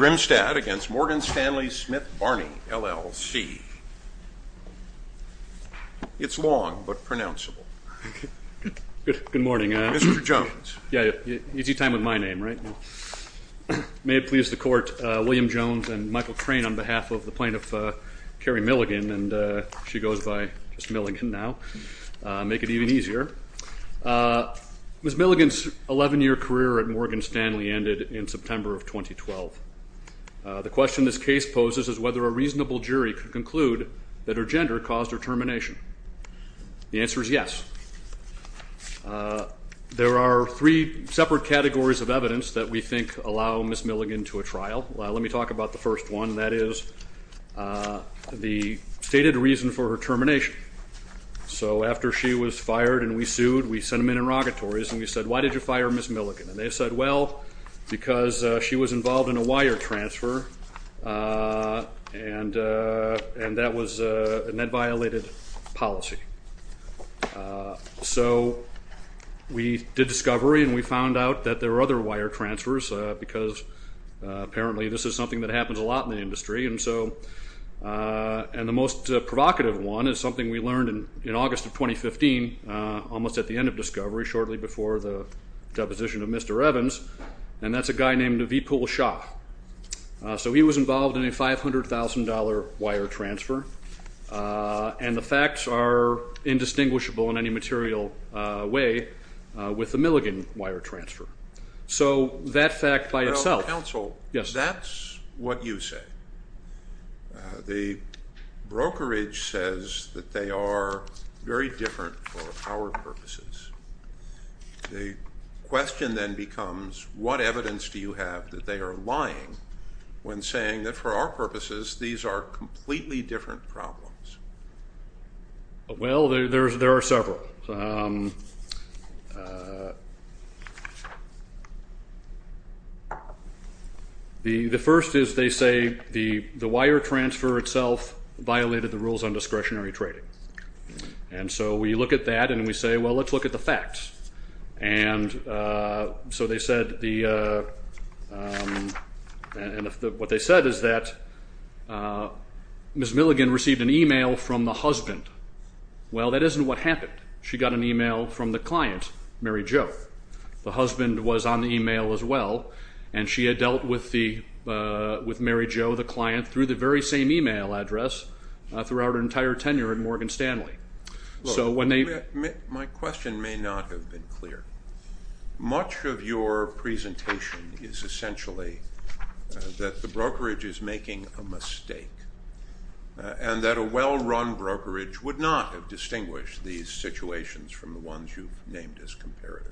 Grimstad v. Morgan Stanley Smith Barney, LLC. It's long, but pronounceable. Good morning. Mr. Jones. Easy time with my name, right? May it please the Court, William Jones and Michael Crane on behalf of the plaintiff, Carrie Milligan, and she goes by just Milligan now, make it even easier. Ms. Milligan's 11-year career at Morgan Stanley ended in September of 2012. The question this case poses is whether a reasonable jury could conclude that her gender caused her termination. The answer is yes. There are three separate categories of evidence that we think allow Ms. Milligan to a trial. Let me talk about the first one, and that is the stated reason for her termination. So after she was fired and we sued, we sent them in in rogatories and we said, why did you fire Ms. Milligan? And they said, well, because she was involved in a wire transfer, and that violated policy. So we did discovery and we found out that there were other wire transfers because apparently this is something that happens a lot in the industry. And the most provocative one is something we learned in August of 2015, almost at the end of discovery, shortly before the deposition of Mr. Evans, and that's a guy named Avipul Shah. So he was involved in a $500,000 wire transfer, and the facts are indistinguishable in any material way with the Milligan wire transfer. So that fact by itself. Well, counsel, that's what you say. The brokerage says that they are very different for our purposes. The question then becomes, what evidence do you have that they are lying when saying that for our purposes these are completely different problems? Well, there are several. The first is they say the wire transfer itself violated the rules on discretionary trading. And so we look at that and we say, well, let's look at the facts. And so what they said is that Ms. Milligan received an e-mail from the husband. Well, that isn't what happened. She got an e-mail from the client, Mary Jo. The husband was on the e-mail as well, and she had dealt with Mary Jo, the client, through the very same e-mail address throughout her entire tenure at Morgan Stanley. My question may not have been clear. Much of your presentation is essentially that the brokerage is making a mistake and that a well-run brokerage would not have distinguished these situations from the ones you've named as comparatives.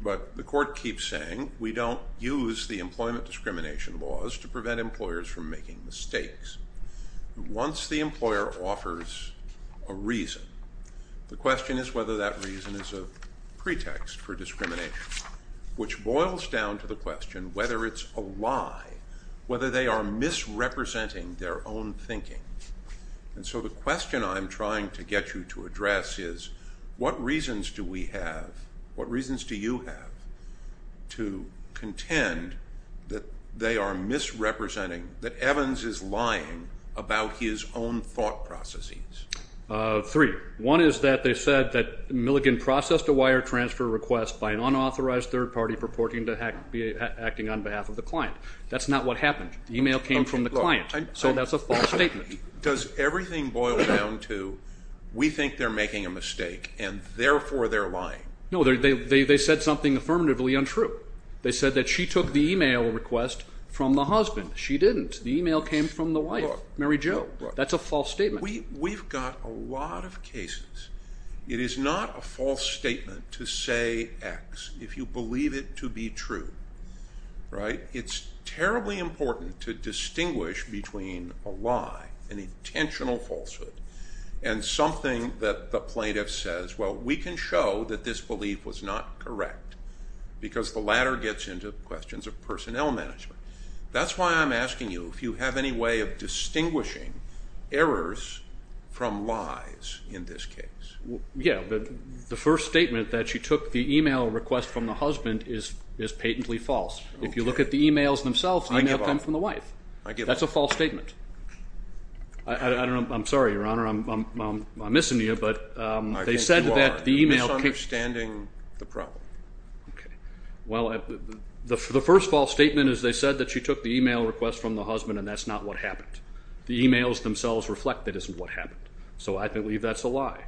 But the court keeps saying we don't use the employment discrimination laws to prevent employers from making mistakes. Once the employer offers a reason, the question is whether that reason is a pretext for discrimination, which boils down to the question whether it's a lie, whether they are misrepresenting their own thinking. And so the question I'm trying to get you to address is what reasons do we have, what reasons do you have to contend that they are misrepresenting, that Evans is lying about his own thought processes? Three. One is that they said that Milligan processed a wire transfer request by an unauthorized third party purporting to be acting on behalf of the client. That's not what happened. The e-mail came from the client, so that's a false statement. Does everything boil down to we think they're making a mistake, and therefore they're lying? No, they said something affirmatively untrue. They said that she took the e-mail request from the husband. She didn't. The e-mail came from the wife, Mary Jo. That's a false statement. We've got a lot of cases. It is not a false statement to say X if you believe it to be true. It's terribly important to distinguish between a lie, an intentional falsehood, and something that the plaintiff says, well, we can show that this belief was not correct, because the latter gets into questions of personnel management. That's why I'm asking you if you have any way of distinguishing errors from lies in this case. Yeah, but the first statement that she took the e-mail request from the husband is patently false. If you look at the e-mails themselves, the e-mail came from the wife. I give up. That's a false statement. I don't know. I'm sorry, Your Honor. I'm missing you, but they said that the e-mail came from the wife. I think you are misunderstanding the problem. Okay. Well, the first false statement is they said that she took the e-mail request from the husband, and that's not what happened. The e-mails themselves reflect that isn't what happened, so I believe that's a lie.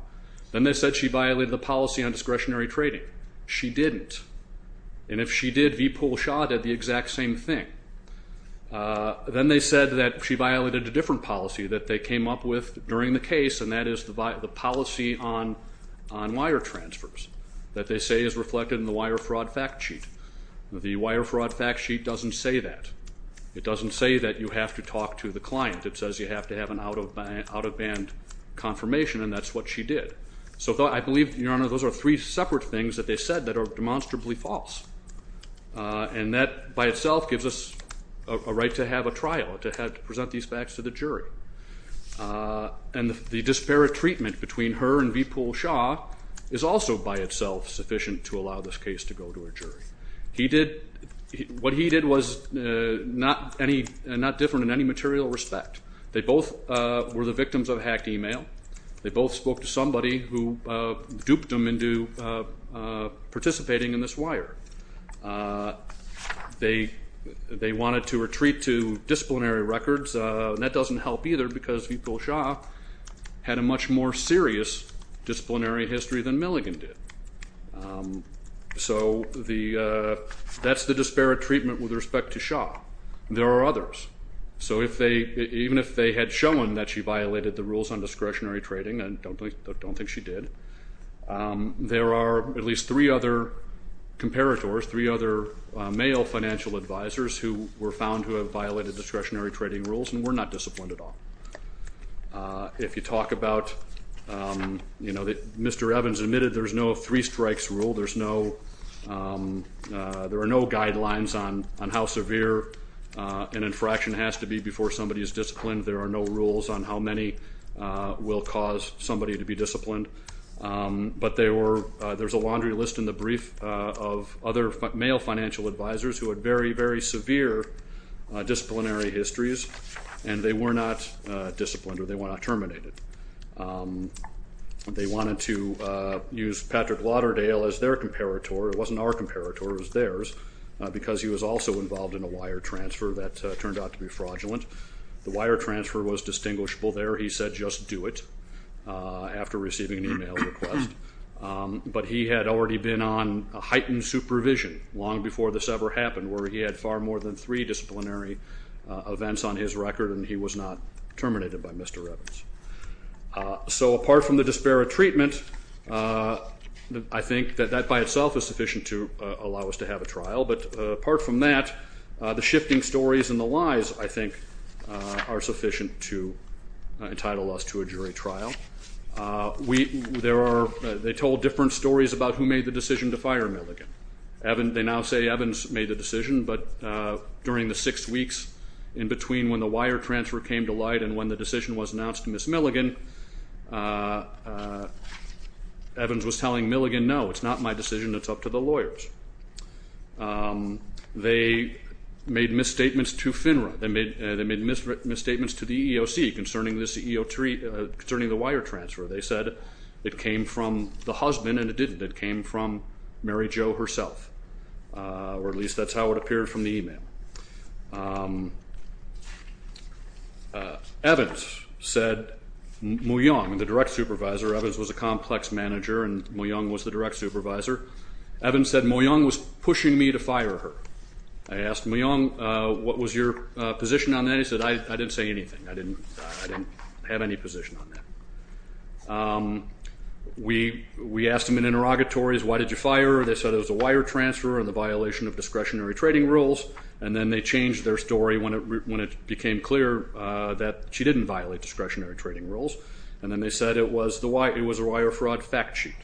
Then they said she violated the policy on discretionary trading. She didn't. And if she did, V. Poole shot at the exact same thing. Then they said that she violated a different policy that they came up with during the case, and that is the policy on wire transfers that they say is reflected in the wire fraud fact sheet. The wire fraud fact sheet doesn't say that. It doesn't say that you have to talk to the client. It says you have to have an out-of-band confirmation, and that's what she did. So I believe, Your Honor, those are three separate things that they said that are demonstrably false, and that by itself gives us a right to have a trial, to present these facts to the jury. And the disparate treatment between her and V. Poole Shaw is also by itself sufficient to allow this case to go to a jury. What he did was not different in any material respect. They both were the victims of hacked e-mail. They both spoke to somebody who duped them into participating in this wire. They wanted to retreat to disciplinary records, and that doesn't help either because V. Poole Shaw had a much more serious disciplinary history than Milligan did. So that's the disparate treatment with respect to Shaw. There are others. So even if they had shown that she violated the rules on discretionary trading, I don't think she did, there are at least three other comparators, three other male financial advisors, who were found to have violated discretionary trading rules and were not disciplined at all. If you talk about, you know, Mr. Evans admitted there's no three-strikes rule. There are no guidelines on how severe an infraction has to be before somebody is disciplined. There are no rules on how many will cause somebody to be disciplined. But there's a laundry list in the brief of other male financial advisors who had very, very severe disciplinary histories, and they were not disciplined or they were not terminated. They wanted to use Patrick Lauderdale as their comparator. It wasn't our comparator. It was theirs because he was also involved in a wire transfer that turned out to be fraudulent. The wire transfer was distinguishable there. He said just do it after receiving an e-mail request. But he had already been on heightened supervision long before this ever happened, where he had far more than three disciplinary events on his record, and he was not terminated by Mr. Evans. So apart from the disparate treatment, I think that that by itself is sufficient to allow us to have a trial. But apart from that, the shifting stories and the lies, I think, are sufficient to entitle us to a jury trial. They told different stories about who made the decision to fire Milligan. They now say Evans made the decision. But during the six weeks in between when the wire transfer came to light and when the decision was announced to Ms. Milligan, Evans was telling Milligan, no, it's not my decision. It's up to the lawyers. They made misstatements to FINRA. They made misstatements to the EEOC concerning the wire transfer. They said it came from the husband and it didn't. It came from Mary Jo herself, or at least that's how it appeared from the e-mail. Evans said, Moyong, the direct supervisor, Evans was a complex manager and Moyong was the direct supervisor. Evans said Moyong was pushing me to fire her. I asked Moyong, what was your position on that? He said, I didn't say anything. I didn't have any position on that. We asked him in interrogatories, why did you fire her? They said it was a wire transfer and the violation of discretionary trading rules. And then they changed their story when it became clear that she didn't violate discretionary trading rules. And then they said it was a wire fraud fact sheet.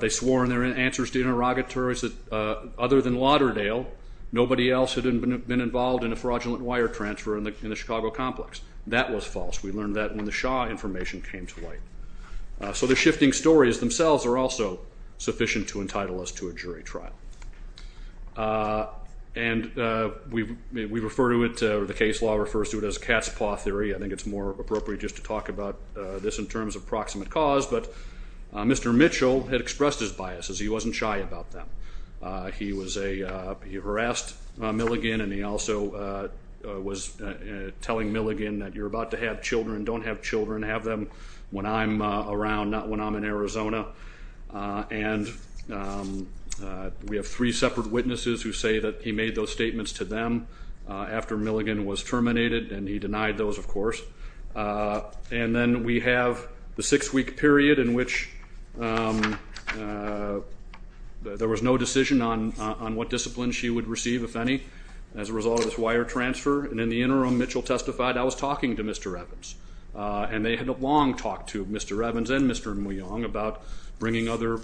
They swore in their answers to interrogatories that other than Lauderdale, nobody else had been involved in a fraudulent wire transfer in the Chicago complex. That was false. We learned that when the Shaw information came to light. So the shifting stories themselves are also sufficient to entitle us to a jury trial. And we refer to it, the case law refers to it as cat's paw theory. I think it's more appropriate just to talk about this in terms of proximate cause. But Mr. Mitchell had expressed his biases. He wasn't shy about them. He harassed Milligan and he also was telling Milligan that you're about to have children. Don't have children. Have them when I'm around, not when I'm in Arizona. And we have three separate witnesses who say that he made those statements to them after Milligan was terminated. And he denied those, of course. And then we have the six-week period in which there was no decision on what discipline she would receive, if any, as a result of this wire transfer. And in the interim, Mitchell testified, I was talking to Mr. Evans. And they had a long talk to Mr. Evans and Mr. Muyong about bringing other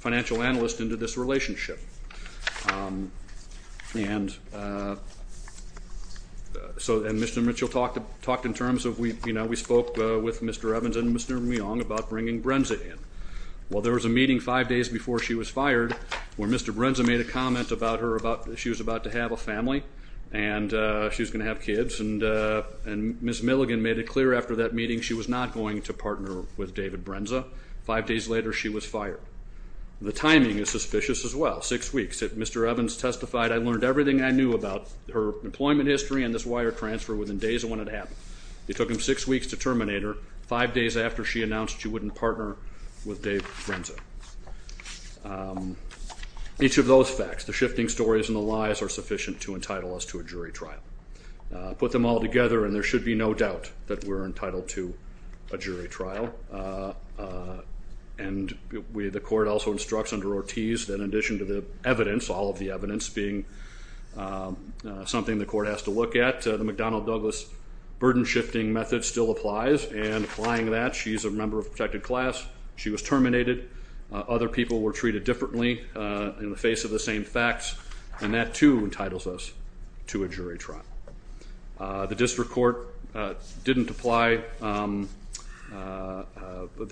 financial analysts into this relationship. And Mr. Mitchell talked in terms of, you know, we spoke with Mr. Evans and Mr. Muyong about bringing Brenza in. Well, there was a meeting five days before she was fired where Mr. Brenza made a comment about her, about she was about to have a family and she was going to have kids. And Ms. Milligan made it clear after that meeting she was not going to partner with David Brenza. Five days later, she was fired. The timing is suspicious as well, six weeks. If Mr. Evans testified, I learned everything I knew about her employment history and this wire transfer within days of when it happened. It took him six weeks to terminate her, five days after she announced she wouldn't partner with Dave Brenza. Each of those facts, the shifting stories and the lies, are sufficient to entitle us to a jury trial. Put them all together and there should be no doubt that we're entitled to a jury trial. And the court also instructs under Ortiz that in addition to the evidence, all of the evidence being something the court has to look at, the McDonnell-Douglas burden shifting method still applies. And applying that, she's a member of a protected class. She was terminated. Other people were treated differently in the face of the same facts. And that, too, entitles us to a jury trial. The district court didn't apply the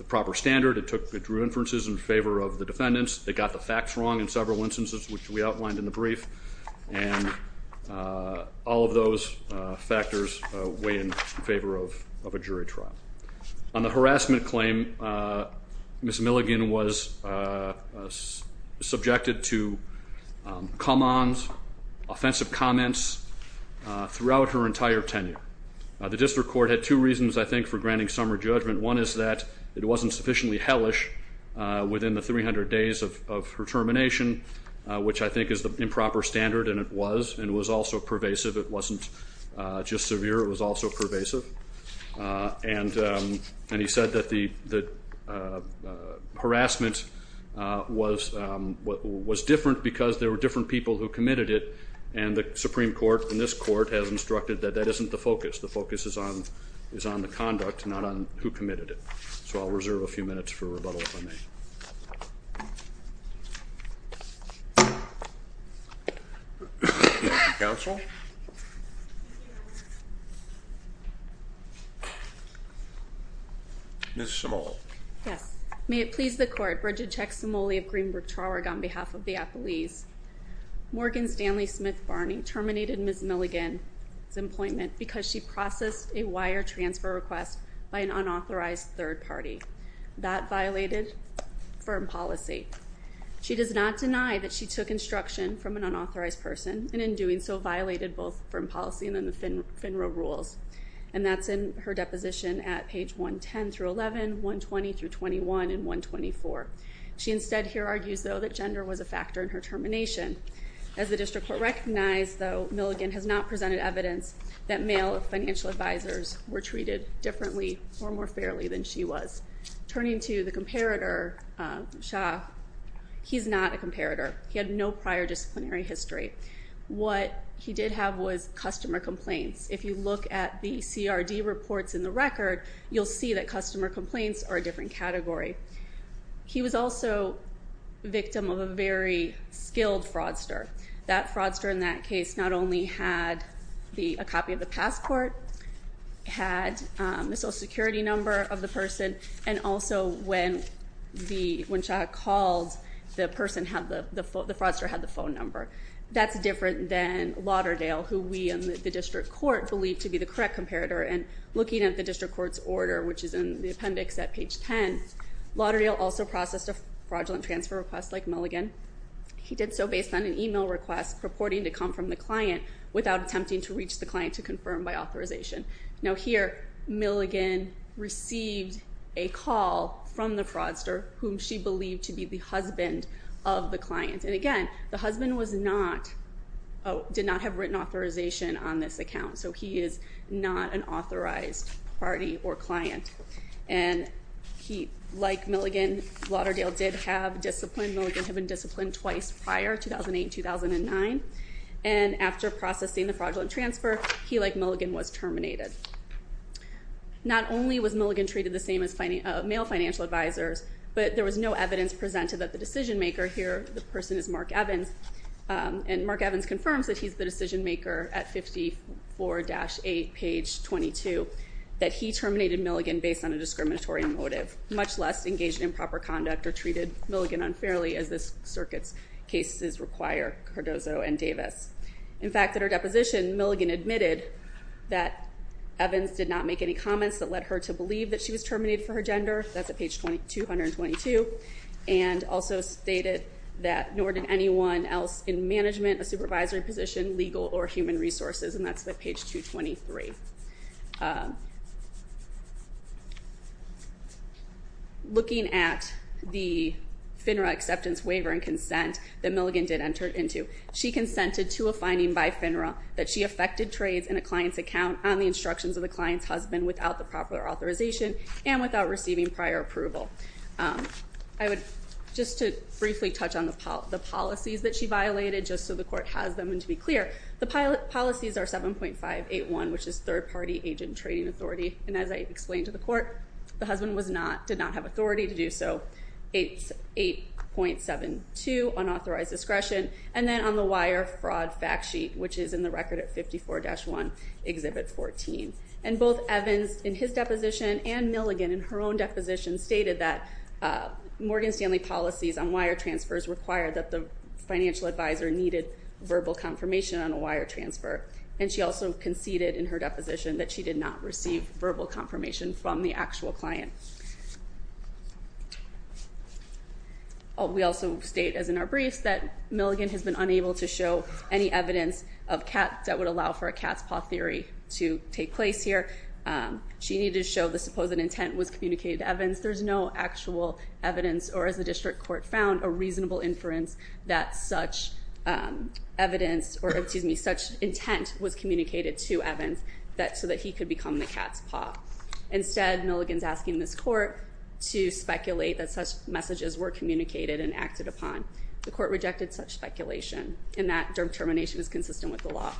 proper standard. It drew inferences in favor of the defendants. It got the facts wrong in several instances, which we outlined in the brief. And all of those factors weigh in favor of a jury trial. On the harassment claim, Ms. Milligan was subjected to come-ons, offensive comments, throughout her entire tenure. The district court had two reasons, I think, for granting summer judgment. One is that it wasn't sufficiently hellish within the 300 days of her termination, which I think is the improper standard, and it was, and it was also pervasive. It wasn't just severe. It was also pervasive. And he said that the harassment was different because there were different people who committed it, and the Supreme Court in this court has instructed that that isn't the focus. The focus is on the conduct, not on who committed it. So I'll reserve a few minutes for rebuttal, if I may. Counsel? Ms. Cimoli. Yes. May it please the court, Bridget Chex Cimoli of Greenbrook Traurig on behalf of the appellees. Morgan Stanley Smith Barney terminated Ms. Milligan's employment because she processed a wire transfer request by an unauthorized third party. That violated firm policy. She does not deny that she took instruction from an unauthorized person and in doing so violated both firm policy and then the FINRA rules, and that's in her deposition at page 110 through 11, 120 through 21, and 124. She instead here argues, though, that gender was a factor in her termination. As the district court recognized, though, Milligan has not presented evidence that male financial advisors were treated differently or more fairly than she was. Turning to the comparator, Shah, he's not a comparator. He had no prior disciplinary history. What he did have was customer complaints. If you look at the CRD reports in the record, you'll see that customer complaints are a different category. He was also victim of a very skilled fraudster. That fraudster in that case not only had a copy of the passport, had the Social Security number of the person, and also when Shah called, the fraudster had the phone number. That's different than Lauderdale, who we in the district court believe to be the correct comparator, and looking at the district court's order, which is in the appendix at page 10, Lauderdale also processed a fraudulent transfer request like Milligan. He did so based on an email request purporting to come from the client without attempting to reach the client to confirm by authorization. Now here, Milligan received a call from the fraudster, whom she believed to be the husband of the client, and again, the husband did not have written authorization on this account, so he is not an authorized party or client. And like Milligan, Lauderdale did have discipline. Milligan had been disciplined twice prior, 2008 and 2009, and after processing the fraudulent transfer, he, like Milligan, was terminated. Not only was Milligan treated the same as male financial advisors, but there was no evidence presented that the decision maker here, the person is Mark Evans, and Mark Evans confirms that he's the decision maker at 54-8, page 22, that he terminated Milligan based on a discriminatory motive, much less engaged in improper conduct or treated Milligan unfairly as this circuit's cases require Cardozo and Davis. In fact, at her deposition, Milligan admitted that Evans did not make any comments that led her to believe that she was terminated for her gender. That's at page 222, and also stated that nor did anyone else in management, a supervisory position, legal, or human resources, and that's at page 223. Looking at the FINRA acceptance waiver and consent that Milligan did enter into, she consented to a finding by FINRA that she affected trades in a client's account on the instructions of the client's husband without the proper authorization and without receiving prior approval. Just to briefly touch on the policies that she violated, just so the court has them, and to be clear, the policies are 7.581, which is third-party agent trading authority, and as I explained to the court, the husband did not have authority to do so. It's 8.72, unauthorized discretion, and then on the wire, fraud fact sheet, which is in the record at 54-1, Exhibit 14. And both Evans in his deposition and Milligan in her own deposition stated that Morgan Stanley policies on wire transfers required that the financial advisor needed verbal confirmation on a wire transfer, and she also conceded in her deposition that she did not receive verbal confirmation from the actual client. We also state, as in our briefs, that Milligan has been unable to show any evidence that would allow for a cat's paw theory to take place here. She needed to show the supposed intent was communicated to Evans. There's no actual evidence, or as the district court found, a reasonable inference that such intent was communicated to Evans so that he could become the cat's paw. Instead, Milligan's asking this court to speculate that such messages were communicated and acted upon. The court rejected such speculation, and that termination is consistent with the law.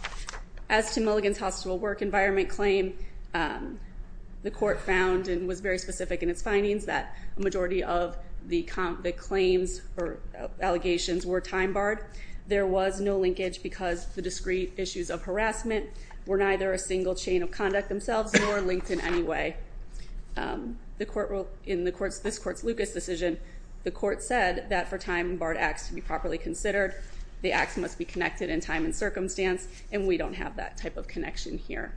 As to Milligan's hospital work environment claim, the court found and was very specific in its findings that a majority of the claims or allegations were time barred. There was no linkage because the discrete issues of harassment were neither a single chain of conduct themselves nor linked in any way. In this court's Lucas decision, the court said that for time barred acts to be properly considered, the acts must be connected in time and circumstance, and we don't have that type of connection here.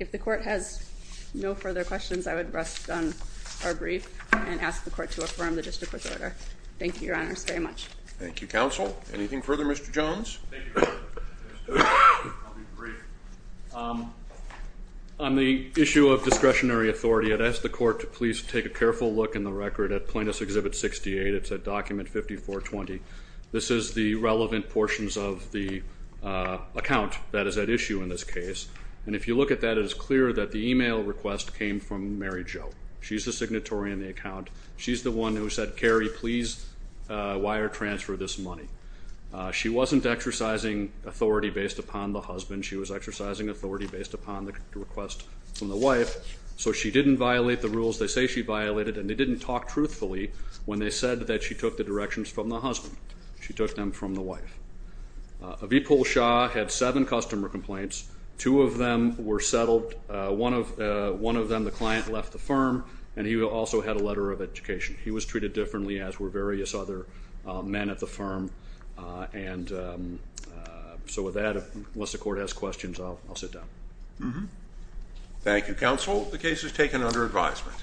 If the court has no further questions, I would rest on our brief and ask the court to affirm the district court's order. Thank you, Your Honors, very much. Thank you, Counsel. Anything further, Mr. Jones? Thank you, Your Honor. I'll be brief. On the issue of discretionary authority, I'd ask the court to please take a careful look in the record at Plaintiffs' Exhibit 68. It's at document 5420. This is the relevant portions of the account that is at issue in this case, and if you look at that, it is clear that the email request came from Mary Jo. She's the signatory in the account. She's the one who said, Carrie, please wire transfer this money. She wasn't exercising authority based upon the husband. She was exercising authority based upon the request from the wife, so she didn't violate the rules they say she violated, and they didn't talk truthfully when they said that she took the directions from the husband. She took them from the wife. Avipul Shah had seven customer complaints. Two of them were settled. One of them, the client, left the firm, and he also had a letter of education. He was treated differently, as were various other men at the firm, and so with that, unless the court has questions, I'll sit down. Thank you, counsel. The case is taken under advisement.